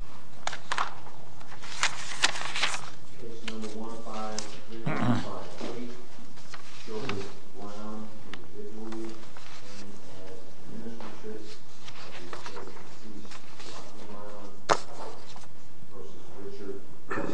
Case number 15358, Joseph Brown, individually, and as an administrator of the United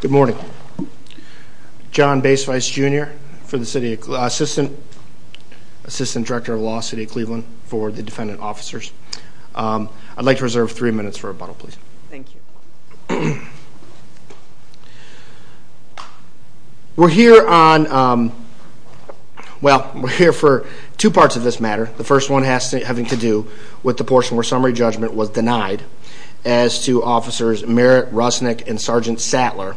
States Good morning. John Bace, Vice Junior for the City of Cleveland, Assistant Director of Law, City of Cleveland officers. I'd like to reserve three minutes for rebuttal please. Thank you. We're here for two parts of this matter. The first one has to do with the portion where summary judgment was denied as to Officers Merritt, Rusnick, and Sergeant Sattler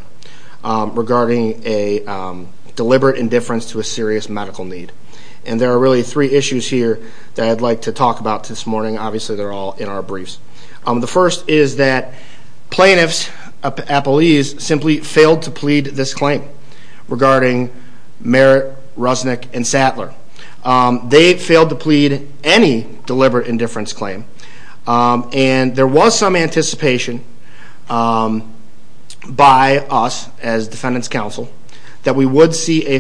regarding a deliberate indifference to a serious medical need. And there are really three issues here that I'd like to talk about this morning. Obviously, they're all in our briefs. The first is that plaintiffs, appellees, simply failed to plead this claim regarding Merritt, Rusnick, and Sattler. They failed to plead any deliberate indifference claim. And there was some anticipation by us as Defendant's Counsel that we would see a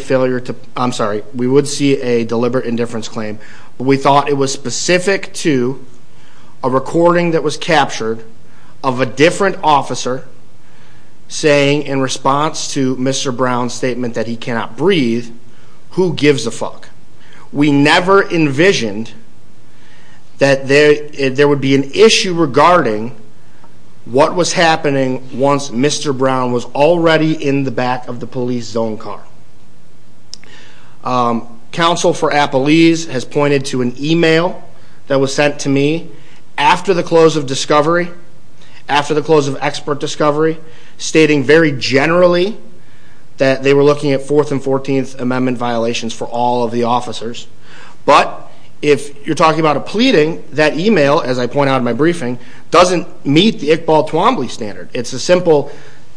deliberate indifference claim. But we thought it was specific to a recording that was captured of a different officer saying in response to Mr. Brown's statement that he cannot breathe, who gives a fuck? We never envisioned that there would be an issue regarding what was happening once Mr. Brown was already in the back of the police zone car. Counsel for appellees has pointed to an email that was sent to me after the close of discovery, after the close of expert discovery, stating very generally that they were looking at 4th and 14th Amendment violations for all of the officers. But if you're talking about a pleading, that email as I point out in my briefing, doesn't meet the Iqbal Twombly standard. It's a simple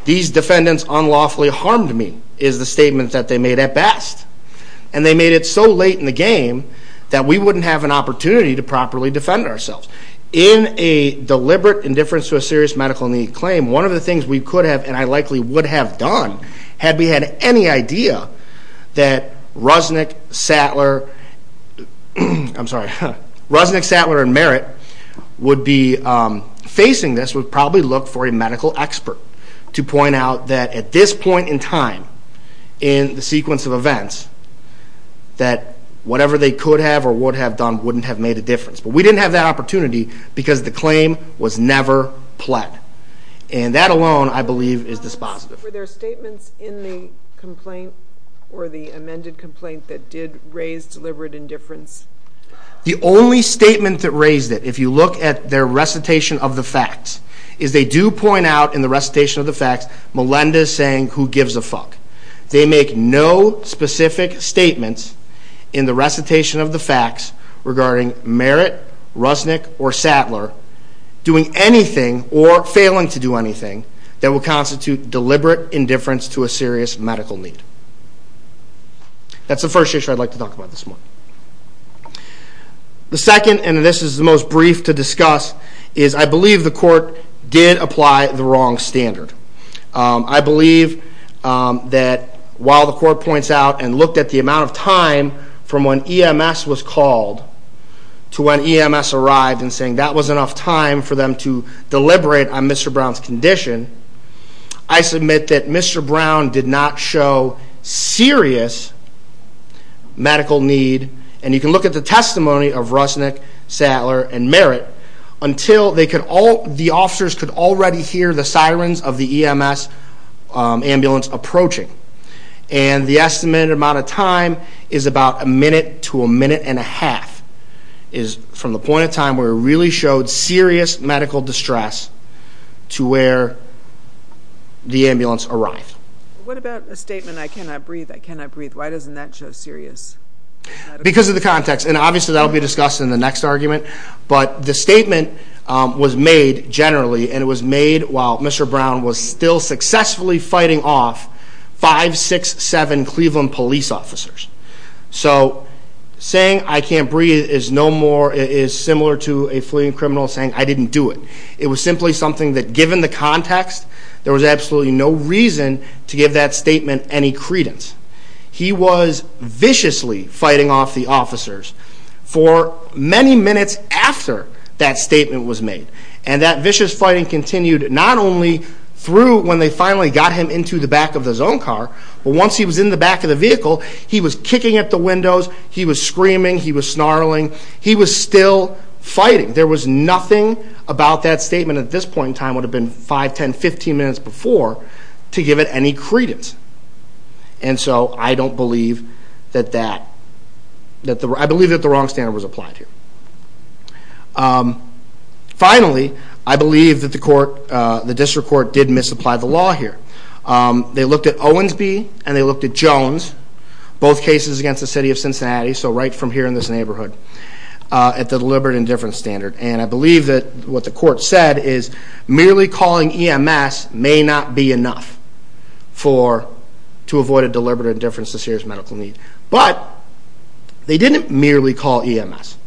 these defendants unlawfully harmed me is the statement that they made at best. And they made it so late in the game that we wouldn't have an opportunity to properly defend ourselves. In a deliberate indifference to a serious medical need claim, one of the things we could have and I likely would have done had we had any idea that Rusnick, Sattler, I'm sorry, Rusnick, Sattler, and Merritt would be facing this would probably look for a medical expert to point out that at this point in time, in the sequence of events, that whatever they could have or would have done wouldn't have made a difference. But we didn't have that opportunity because the claim was never pled. And that alone I believe is dispositive. Were there statements in the complaint or the amended complaint that did raise deliberate indifference? The only statement that raised it, if you look at their recitation of the facts, is they do point out in the recitation of the facts Melinda saying who gives a fuck. They make no specific statements in the recitation of the facts regarding Merritt, Rusnick, or Sattler doing anything or failing to do anything that would constitute deliberate indifference to a serious medical need. That's the first issue I'd like to talk about this morning. The second, and this is the most brief to discuss, is I believe the court did apply the wrong standard. I believe that while the court points out and looked at the amount of time from when EMS was called to when EMS arrived and saying that was enough time for Mr. Brown's condition, I submit that Mr. Brown did not show serious medical need, and you can look at the testimony of Rusnick, Sattler, and Merritt, until the officers could already hear the sirens of the EMS ambulance approaching. And the estimated amount of time is about a minute to a minute and a half, is from the point of time where it really showed serious medical distress to where the ambulance arrived. What about the statement, I cannot breathe, I cannot breathe, why doesn't that show serious medical distress? Because of the context, and obviously that will be discussed in the next argument, but the statement was made generally, and it was made while Mr. Brown was still successfully fighting off five, six, seven Cleveland police officers. So saying I can't breathe is no I didn't do it. It was simply something that given the context, there was absolutely no reason to give that statement any credence. He was viciously fighting off the officers for many minutes after that statement was made. And that vicious fighting continued not only through when they finally got him into the back of the zone car, but once he was in the back of the vehicle, he was kicking at the windows, he was screaming, he was snarling, he was still fighting. There was nothing about that statement at this point in time would have been five, ten, fifteen minutes before to give it any credence. And so I don't believe that that, I believe that the wrong standard was applied here. Finally, I believe that the court, the district court did misapply the law here. They looked at Owensby and they looked at Jones, both cases against the city of Cincinnati, so right from here in this neighborhood, at the deliberate indifference standard. And I believe that what the court said is merely calling EMS may not be enough to avoid a deliberate indifference to serious medical need. But they didn't merely call EMS.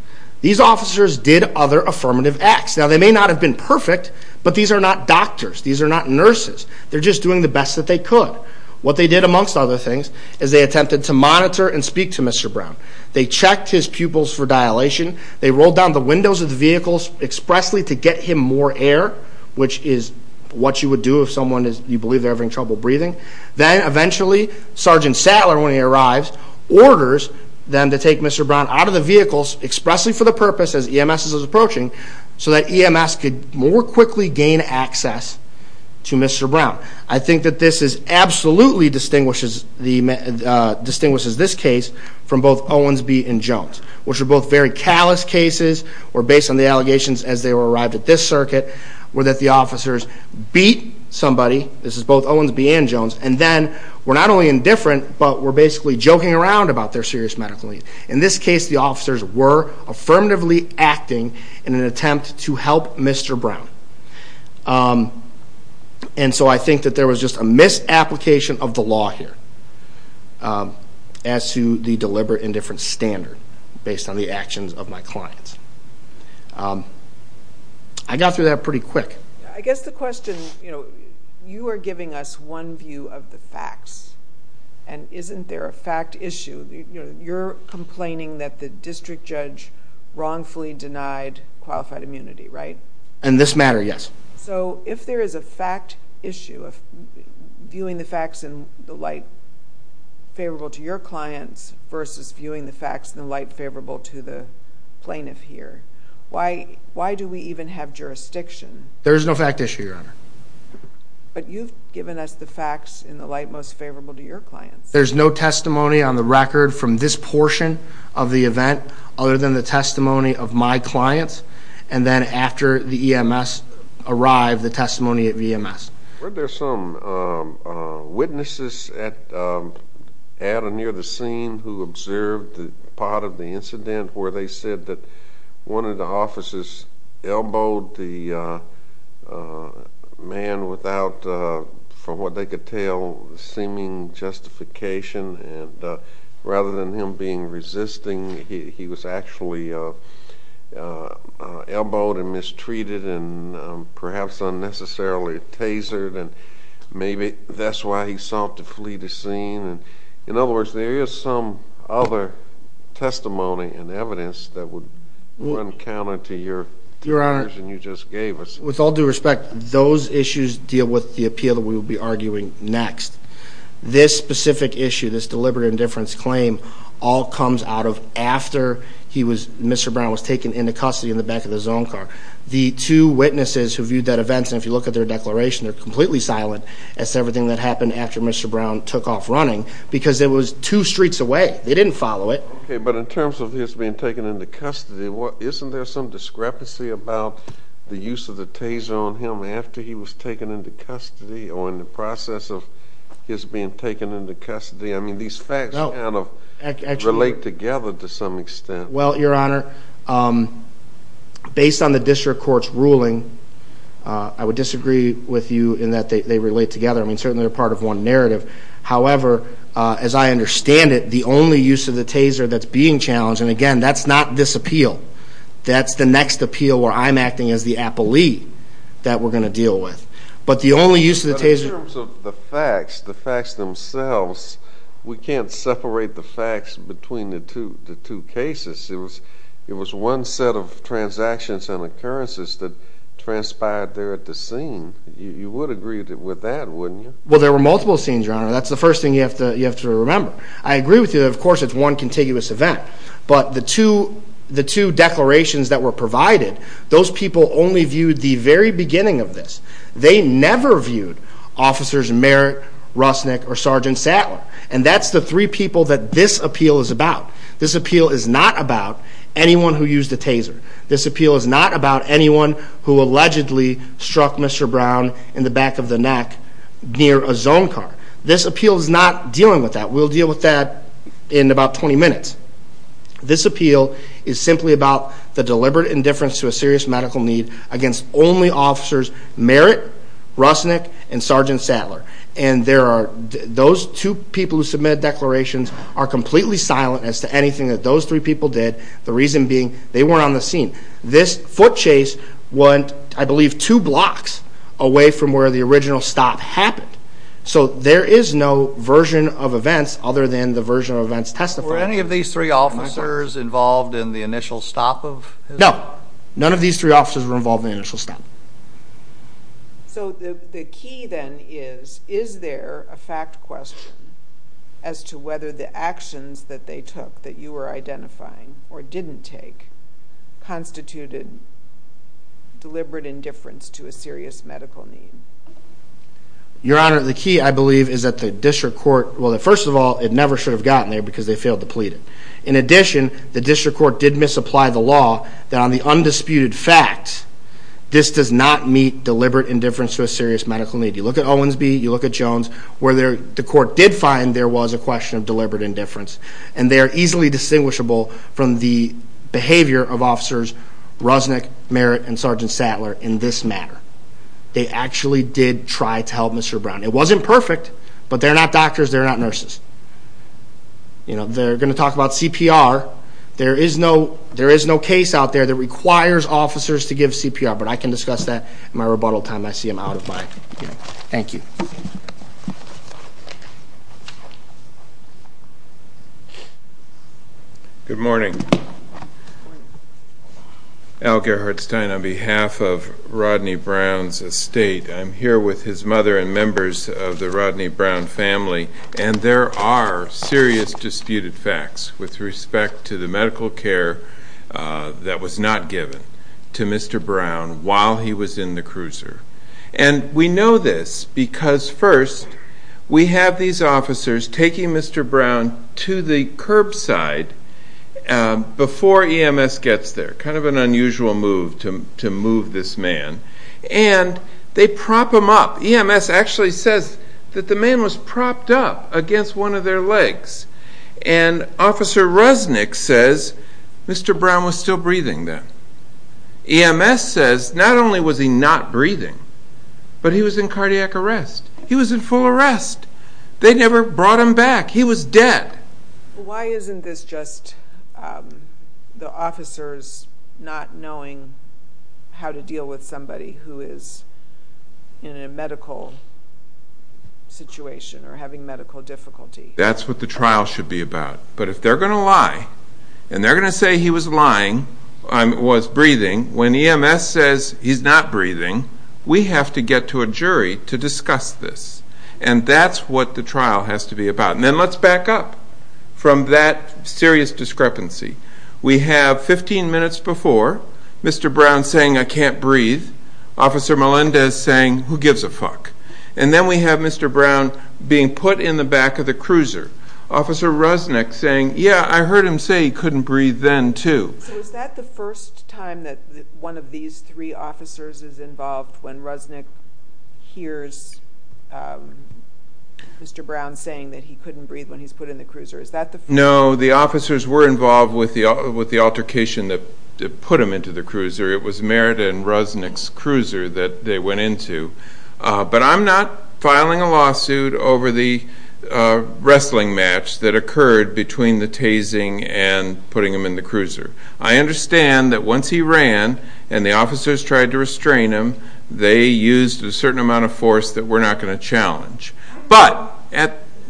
These officers did other affirmative acts. Now they may not have been perfect, but these are not doctors. These are not nurses. They're just doing the best that they could. What they did, amongst other things, is they attempted to monitor and speak to Mr. Brown. They checked his pupils for dilation. They rolled down the windows of the vehicles expressly to get him more air, which is what you would do if someone is, you believe, they're having trouble breathing. Then eventually, Sergeant Sattler, when he arrives, orders them to take Mr. Brown out of the vehicles expressly for the purpose, as EMS is approaching, so that EMS could more quickly gain access to Mr. Brown. I think that this absolutely distinguishes this case from both Owens v. Jones, which were both very callous cases, were based on the allegations as they arrived at this circuit, where the officers beat somebody, this is both Owens v. Jones, and then were not only indifferent, but were basically joking around about their serious medical needs. In this case, the officers were affirmatively acting in an attempt to help Mr. Brown. I think that there was just a misapplication of the law here as to the deliberate indifference standard based on the actions of my clients. I got through that pretty quick. I guess the question, you are giving us one view of the facts, and isn't there a fact issue? You're complaining that the district judge wrongfully denied qualified immunity, right? In this matter, yes. So if there is a fact issue of viewing the facts in the light favorable to your clients versus viewing the facts in the light favorable to the plaintiff here, why do we even have jurisdiction? There is no fact issue, Your Honor. But you've given us the facts in the light most favorable to your clients. There's no testimony on the record from this portion of the event other than the testimony of my clients, and then after the EMS arrived, the testimony of EMS. Weren't there some witnesses at or near the scene who observed part of the incident where they said that one of the officers elbowed the man without, from what they could tell, seeming justification, and rather than him being resisting, he was actually elbowed and mistreated and perhaps unnecessarily tasered, and maybe that's why he sought to flee the scene. In other words, there is some other testimony and evidence that would run counter to your version you just gave us. With all due respect, those issues deal with the appeal that we will be arguing next. This specific issue, this deliberate indifference claim, all comes out of after Mr. Brown was taken into custody in the back of the zone car. The two witnesses who viewed that event, and if you look at their declaration, they're completely silent as to everything that happened after Mr. Brown took off running because it was two streets away. They didn't follow it. Okay, but in terms of his being taken into custody, isn't there some discrepancy about the use of the taser on him after he was taken into custody or in the process of his being taken into custody? I mean, these facts kind of relate together to some extent. Well, Your Honor, based on the district court's ruling, I would disagree with you in that they relate together. I mean, certainly they're part of one narrative. However, as I understand it, the only use of the taser that's being challenged, and, again, that's not this appeal. That's the next appeal where I'm acting as the appellee that we're going to deal with. But the only use of the taser— But in terms of the facts, the facts themselves, we can't separate the facts between the two cases. It was one set of transactions and occurrences that transpired there at the scene. You would agree with that, wouldn't you? Well, there were multiple scenes, Your Honor. That's the first thing you have to remember. I agree with you that, of course, it's one contiguous event. But the two declarations that were provided, those people only viewed the very beginning of this. They never viewed Officers Merritt, Rusnik, or Sergeant Sattler. And that's the three people that this appeal is about. This appeal is not about anyone who used a taser. This appeal is not about anyone who allegedly struck Mr. Brown in the back of the neck near a zone car. This appeal is not dealing with that. We'll deal with that in about 20 minutes. This appeal is simply about the deliberate indifference to a serious medical need against only Officers Merritt, Rusnik, and Sergeant Sattler. And those two people who submitted declarations are completely silent as to anything that those three people did, the reason being they weren't on the scene. This foot chase went, I believe, two blocks away from where the original stop happened. So there is no version of events other than the version of events testified. Were any of these three officers involved in the initial stop? No. None of these three officers were involved in the initial stop. So the key then is, is there a fact question as to whether the actions that they took that you were identifying or didn't take constituted deliberate indifference to a serious medical need? Your Honor, the key, I believe, is that the district court, well, first of all, it never should have gotten there because they failed to plead it. In addition, the district court did misapply the law that on the undisputed fact, this does not meet deliberate indifference to a serious medical need. You look at Owensby, you look at Jones, where the court did find there was a question of deliberate indifference. And they are easily distinguishable from the behavior of Officers Rusnik, Merritt, and Sergeant Sattler in this matter. They actually did try to help Mr. Brown. It wasn't perfect, but they're not doctors. They're not nurses. You know, they're going to talk about CPR. There is no case out there that requires officers to give CPR, but I can discuss that in my rebuttal time. I see I'm out of time. Thank you. Good morning. Al Gerhardstein, on behalf of Rodney Brown's estate, I'm here with his mother and members of the Rodney Brown family, and there are serious disputed facts with respect to the medical care that was not given to Mr. Brown while he was in the cruiser. And we know this because, first, we have these officers taking Mr. Brown to the curbside before EMS gets there. Kind of an unusual move to move this man. And they prop him up. EMS actually says that the man was propped up against one of their legs. And Officer Rusnik says Mr. Brown was still breathing then. EMS says not only was he not breathing, but he was in cardiac arrest. He was in full arrest. They never brought him back. He was dead. Why isn't this just the officers not knowing how to deal with somebody who is in a medical situation or having medical difficulty? That's what the trial should be about. But if they're going to lie, and they're going to say he was lying, was breathing, when EMS says he's not breathing, we have to get to a jury to discuss this. And that's what the trial has to be about. And then let's back up from that serious discrepancy. We have 15 minutes before, Mr. Brown saying, I can't breathe, Officer Melendez saying, who gives a fuck? And then we have Mr. Brown being put in the back of the cruiser. Officer Rusnik saying, yeah, I heard him say he couldn't breathe then, too. So is that the first time that one of these three officers is involved when Rusnik hears Mr. Brown saying that he couldn't breathe when he's put in the cruiser? No, the officers were involved with the altercation that put him into the cruiser. It was Merida and Rusnik's cruiser that they went into. But I'm not filing a lawsuit over the wrestling match that occurred between the tasing and putting him in the cruiser. I understand that once he ran and the officers tried to restrain him, they used a certain amount of force that we're not going to challenge. But,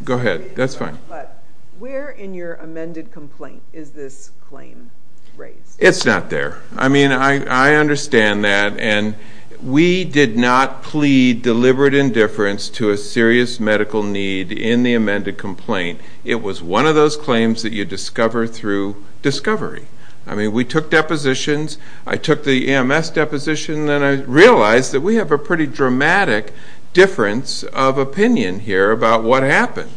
go ahead, that's fine. But where in your amended complaint is this claim raised? It's not there. I mean, I understand that, and we did not plead deliberate indifference to a serious medical need in the amended complaint. It was one of those claims that you discover through discovery. I mean, we took depositions. I took the EMS deposition, and then I realized that we have a pretty dramatic difference of opinion here about what happened,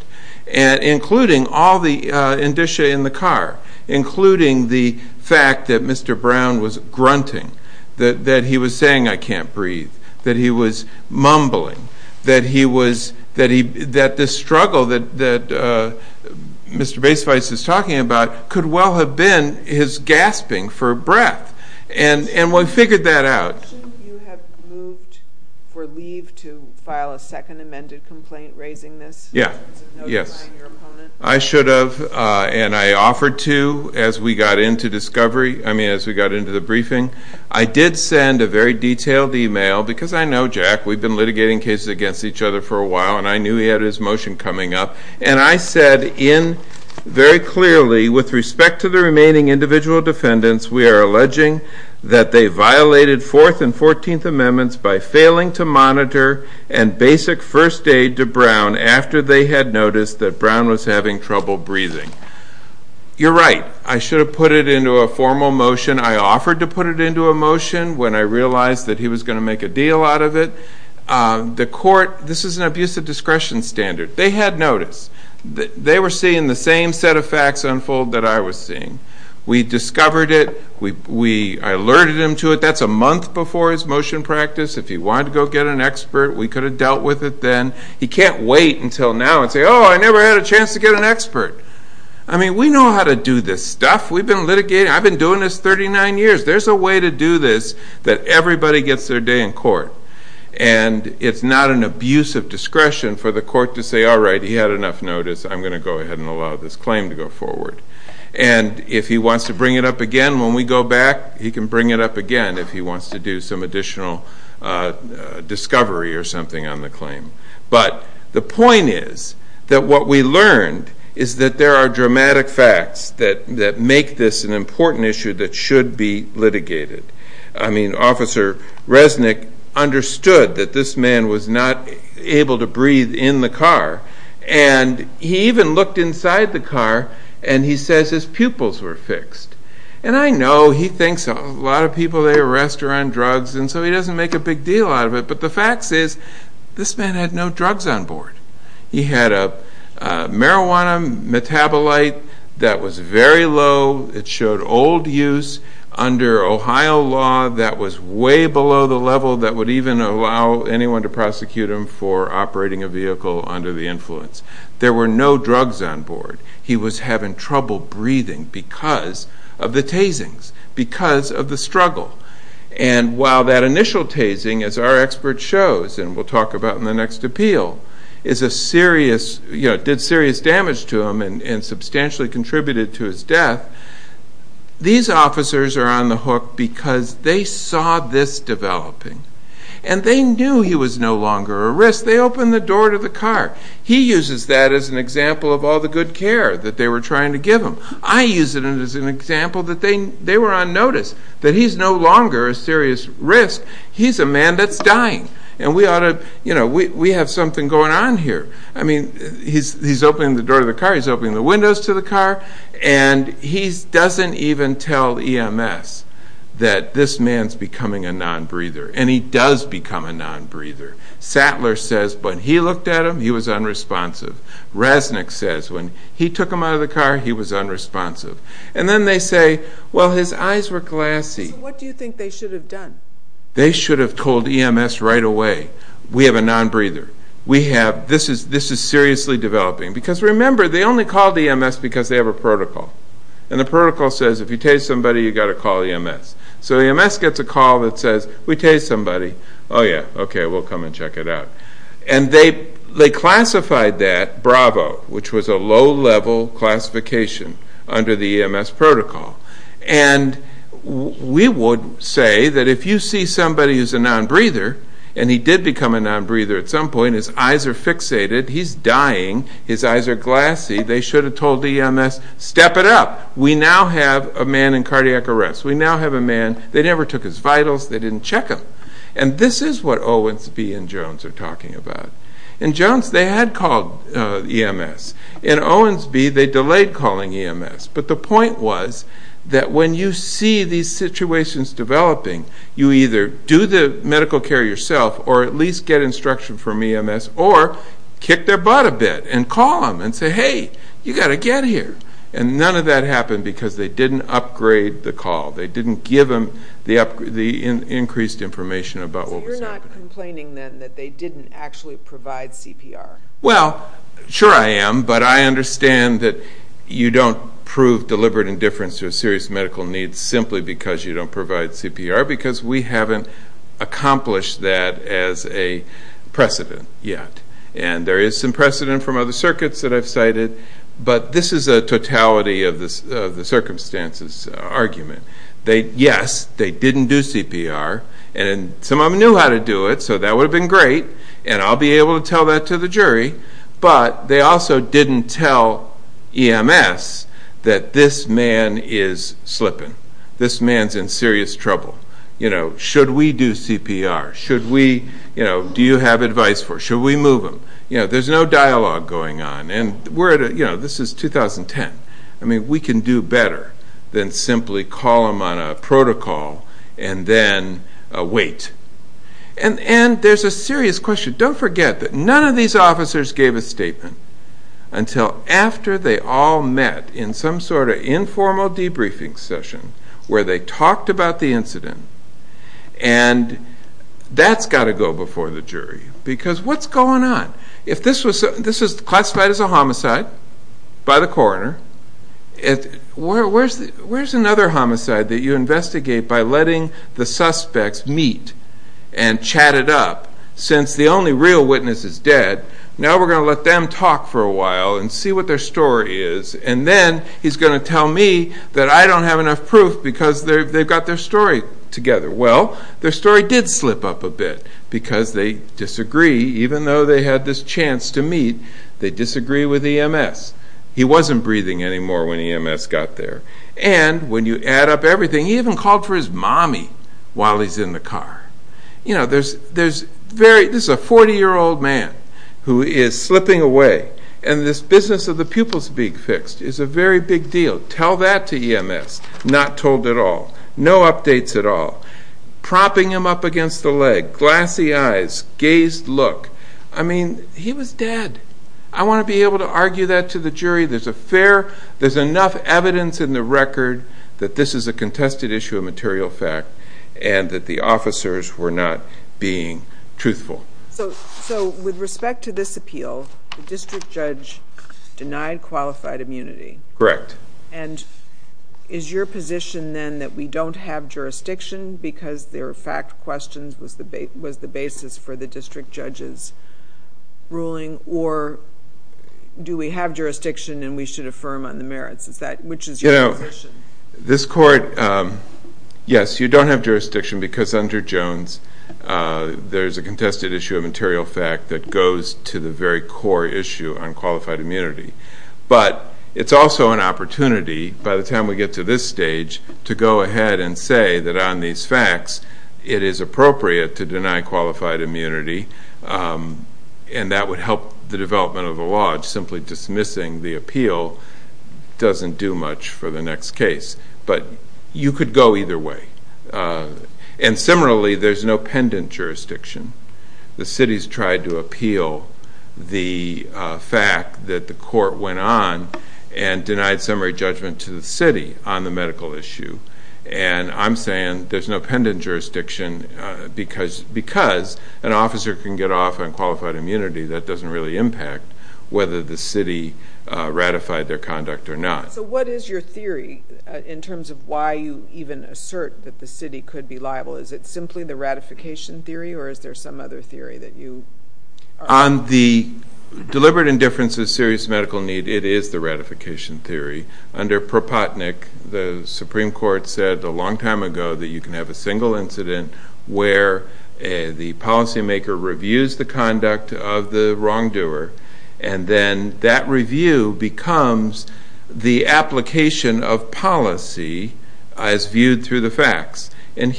including all the indicia in the car, including the fact that Mr. Brown was grunting, that he was saying, I can't breathe, that he was mumbling, that this struggle that Mr. Baisweiss is talking about could well have been his gasping for breath. And we figured that out. You have moved for leave to file a second amended complaint raising this? Yes. I should have, and I offered to as we got into discovery, I mean, as we got into the briefing. I did send a very detailed email, because I know Jack. We've been litigating cases against each other for a while, and I knew he had his motion coming up. And I said in very clearly, with respect to the remaining individual defendants, we are alleging that they violated Fourth and Fourteenth Amendments by failing to monitor and basic first aid to Brown after they had noticed that Brown was having trouble breathing. You're right. I should have put it into a formal motion. I offered to put it into a motion when I realized that he was going to make a deal out of it. The court, this is an abuse of discretion standard. They had noticed. They were seeing the same set of facts unfold that I was seeing. We discovered it. I alerted him to it. That's a month before his motion practice. If he wanted to go get an expert, we could have dealt with it then. He can't wait until now and say, oh, I never had a chance to get an expert. I mean, we know how to do this stuff. We've been litigating. I've been doing this 39 years. There's a way to do this that everybody gets their day in court. And it's not an abuse of discretion for the court to say, all right, he had enough notice. I'm going to go ahead and allow this claim to go forward. And if he wants to bring it up again when we go back, he can bring it up again if he wants to do some additional discovery or something on the claim. But the point is that what we learned is that there are dramatic facts that make this an important issue that should be litigated. I mean, Officer Resnick understood that this man was not able to breathe in the car. And he even looked inside the car, and he says his pupils were fixed. And I know he thinks a lot of people they arrest are on drugs, and so he doesn't make a big deal out of it. But the fact is this man had no drugs on board. He had a marijuana metabolite that was very low. It showed old use under Ohio law that was way below the level that would even allow anyone to prosecute him for operating a vehicle under the influence. There were no drugs on board. He was having trouble breathing because of the tasings, because of the struggle. And while that initial tasing, as our expert shows and we'll talk about in the next appeal, did serious damage to him and substantially contributed to his death, these officers are on the hook because they saw this developing. And they knew he was no longer a risk. They opened the door to the car. He uses that as an example of all the good care that they were trying to give him. I use it as an example that they were on notice, that he's no longer a serious risk. He's a man that's dying. And we ought to, you know, we have something going on here. I mean, he's opening the door to the car, he's opening the windows to the car, and he doesn't even tell EMS that this man's becoming a non-breather. And he does become a non-breather. Sattler says when he looked at him, he was unresponsive. Resnick says when he took him out of the car, he was unresponsive. And then they say, well, his eyes were glassy. So what do you think they should have done? They should have told EMS right away, we have a non-breather. This is seriously developing. Because remember, they only called EMS because they have a protocol. And the protocol says if you tase somebody, you've got to call EMS. So EMS gets a call that says, we tased somebody. Oh, yeah, okay, we'll come and check it out. And they classified that bravo, which was a low-level classification under the EMS protocol. And we would say that if you see somebody who's a non-breather, and he did become a non-breather at some point, his eyes are fixated, he's dying, his eyes are glassy, they should have told EMS, step it up. We now have a man in cardiac arrest. We now have a man, they never took his vitals, they didn't check him. And this is what Owens B. and Jones are talking about. In Jones, they had called EMS. In Owens B., they delayed calling EMS. But the point was that when you see these situations developing, you either do the medical care yourself or at least get instruction from EMS, or kick their butt a bit and call them and say, hey, you've got to get here. And none of that happened because they didn't upgrade the call. They didn't give them the increased information about what was happening. So you're not complaining then that they didn't actually provide CPR? Well, sure I am, but I understand that you don't prove deliberate indifference to a serious medical need simply because you don't provide CPR, because we haven't accomplished that as a precedent yet. And there is some precedent from other circuits that I've cited, but this is a totality of the circumstances argument. Yes, they didn't do CPR, and some of them knew how to do it, so that would have been great, and I'll be able to tell that to the jury. But they also didn't tell EMS that this man is slipping. This man's in serious trouble. Should we do CPR? Do you have advice for it? Should we move him? There's no dialogue going on. This is 2010. We can do better than simply call them on a protocol and then wait. And there's a serious question. Don't forget that none of these officers gave a statement until after they all met in some sort of informal debriefing session where they talked about the incident, and that's got to go before the jury, because what's going on? If this was classified as a homicide by the coroner, where's another homicide that you investigate by letting the suspects meet and chat it up since the only real witness is dead? Now we're going to let them talk for a while and see what their story is, and then he's going to tell me that I don't have enough proof because they've got their story together. Well, their story did slip up a bit because they disagree. Even though they had this chance to meet, they disagree with EMS. He wasn't breathing anymore when EMS got there. And when you add up everything, he even called for his mommy while he's in the car. This is a 40-year-old man who is slipping away, and this business of the pupils being fixed is a very big deal. Tell that to EMS. Not told at all. No updates at all. Propping him up against the leg, glassy eyes, gazed look. I mean, he was dead. I want to be able to argue that to the jury. There's enough evidence in the record that this is a contested issue of material fact and that the officers were not being truthful. So with respect to this appeal, the district judge denied qualified immunity. Correct. And is your position then that we don't have jurisdiction because their fact questions was the basis for the district judge's ruling, or do we have jurisdiction and we should affirm on the merits? Which is your position? This court, yes, you don't have jurisdiction because under Jones, there's a contested issue of material fact that goes to the very core issue on qualified immunity. But it's also an opportunity, by the time we get to this stage, to go ahead and say that on these facts it is appropriate to deny qualified immunity and that would help the development of a law. It's simply dismissing the appeal doesn't do much for the next case. But you could go either way. And similarly, there's no pendant jurisdiction. The city's tried to appeal the fact that the court went on and denied summary judgment to the city on the medical issue. And I'm saying there's no pendant jurisdiction because an officer can get off on qualified immunity. That doesn't really impact whether the city ratified their conduct or not. So what is your theory in terms of why you even assert that the city could be liable? Is it simply the ratification theory or is there some other theory that you are on? On the deliberate indifference of serious medical need, it is the ratification theory. Under Pro Potnick, the Supreme Court said a long time ago that you can have a single incident where the policymaker reviews the conduct of the wrongdoer and then that review becomes the application of policy as viewed through the facts. And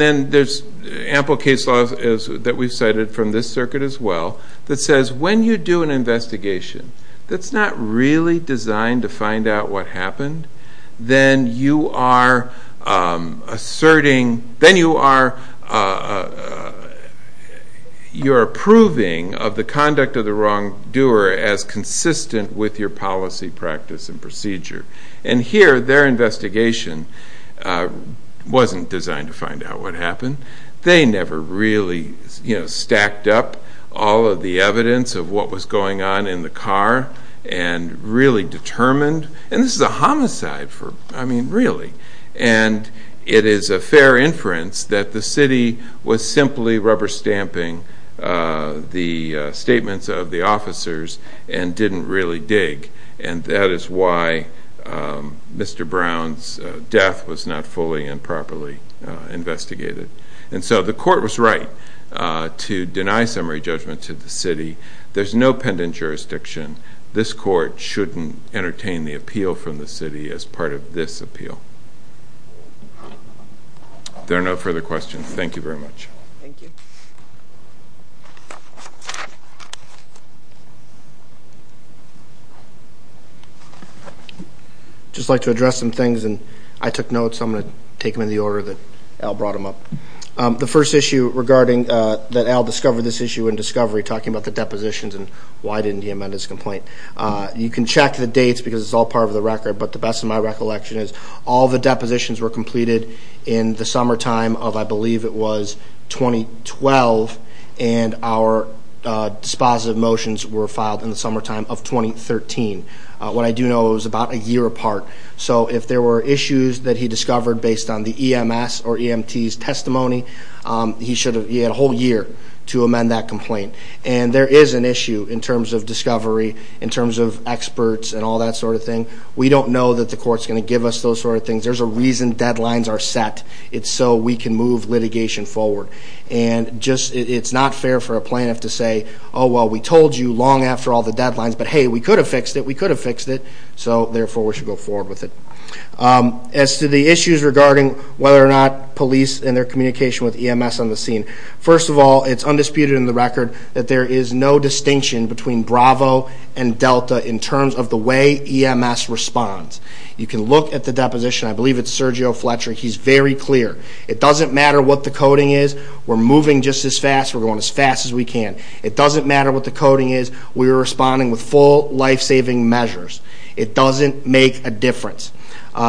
then there's ample case law that we've cited from this circuit as well that says when you do an investigation that's not really designed to find out what happened, then you are approving of the conduct of the wrongdoer as consistent with your policy, practice, and procedure. And here, their investigation wasn't designed to find out what happened. They never really stacked up all of the evidence of what was going on in the car and really determined, and this is a homicide for, I mean, really. And it is a fair inference that the city was simply rubber stamping the statements of the officers and didn't really dig, and that is why Mr. Brown's death was not fully and properly investigated. And so the court was right to deny summary judgment to the city. There's no pendant jurisdiction. This court shouldn't entertain the appeal from the city as part of this appeal. There are no further questions. Thank you very much. Thank you. I'd just like to address some things, and I took notes, so I'm going to take them in the order that Al brought them up. The first issue regarding that Al discovered this issue in discovery, talking about the depositions and why didn't he amend his complaint. You can check the dates because it's all part of the record, but the best of my recollection is all the depositions were completed in the summertime of, I believe it was 2012, and our dispositive motions were filed in the summertime of 2013. What I do know is it was about a year apart. So if there were issues that he discovered based on the EMS or EMT's testimony, he had a whole year to amend that complaint. And there is an issue in terms of discovery, in terms of experts and all that sort of thing. We don't know that the court's going to give us those sort of things. There's a reason deadlines are set. It's so we can move litigation forward. And it's not fair for a plaintiff to say, oh, well, we told you long after all the deadlines, but hey, we could have fixed it, we could have fixed it, so therefore we should go forward with it. As to the issues regarding whether or not police and their communication with EMS on the scene, first of all, it's undisputed in the record that there is no distinction between Bravo and Delta in terms of the way EMS responds. You can look at the deposition. I believe it's Sergio Fletcher. He's very clear. It doesn't matter what the coding is. We're moving just as fast. We're going as fast as we can. It doesn't matter what the coding is. We're responding with full life-saving measures. It doesn't make a difference.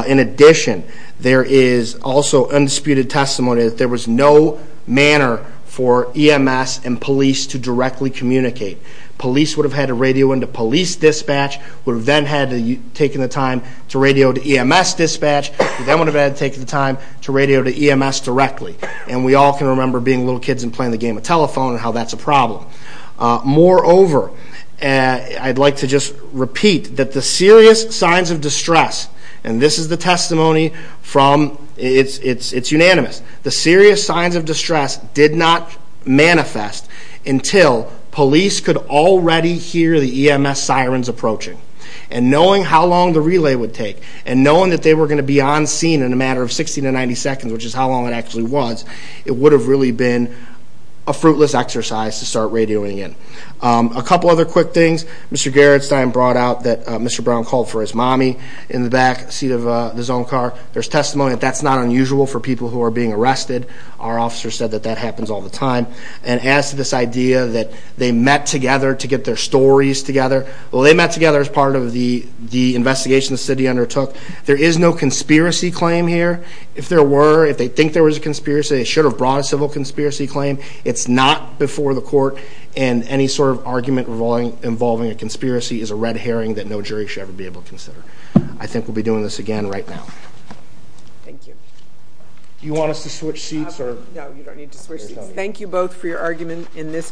In addition, there is also undisputed testimony that there was no manner for EMS and police to directly communicate. Police would have had to radio into police dispatch, would have then had to take the time to radio to EMS dispatch, would then would have had to take the time to radio to EMS directly, and we all can remember being little kids and playing the game of telephone and how that's a problem. Moreover, I'd like to just repeat that the serious signs of distress, and this is the testimony from its unanimous, the serious signs of distress did not manifest until police could already hear the EMS sirens approaching, and knowing how long the relay would take, and knowing that they were going to be on scene in a matter of 60 to 90 seconds, which is how long it actually was, it would have really been a fruitless exercise to start radioing in. A couple other quick things. Mr. Gerritsen brought out that Mr. Brown called for his mommy in the back seat of his own car. There's testimony that that's not unusual for people who are being arrested. Our officer said that that happens all the time. And as to this idea that they met together to get their stories together, well, they met together as part of the investigation the city undertook. There is no conspiracy claim here. If there were, if they think there was a conspiracy, they should have brought a civil conspiracy claim. It's not before the court, and any sort of argument involving a conspiracy is a red herring that no jury should ever be able to consider. I think we'll be doing this again right now. Thank you. Do you want us to switch seats? No, you don't need to switch seats. Thank you both for your argument in this case.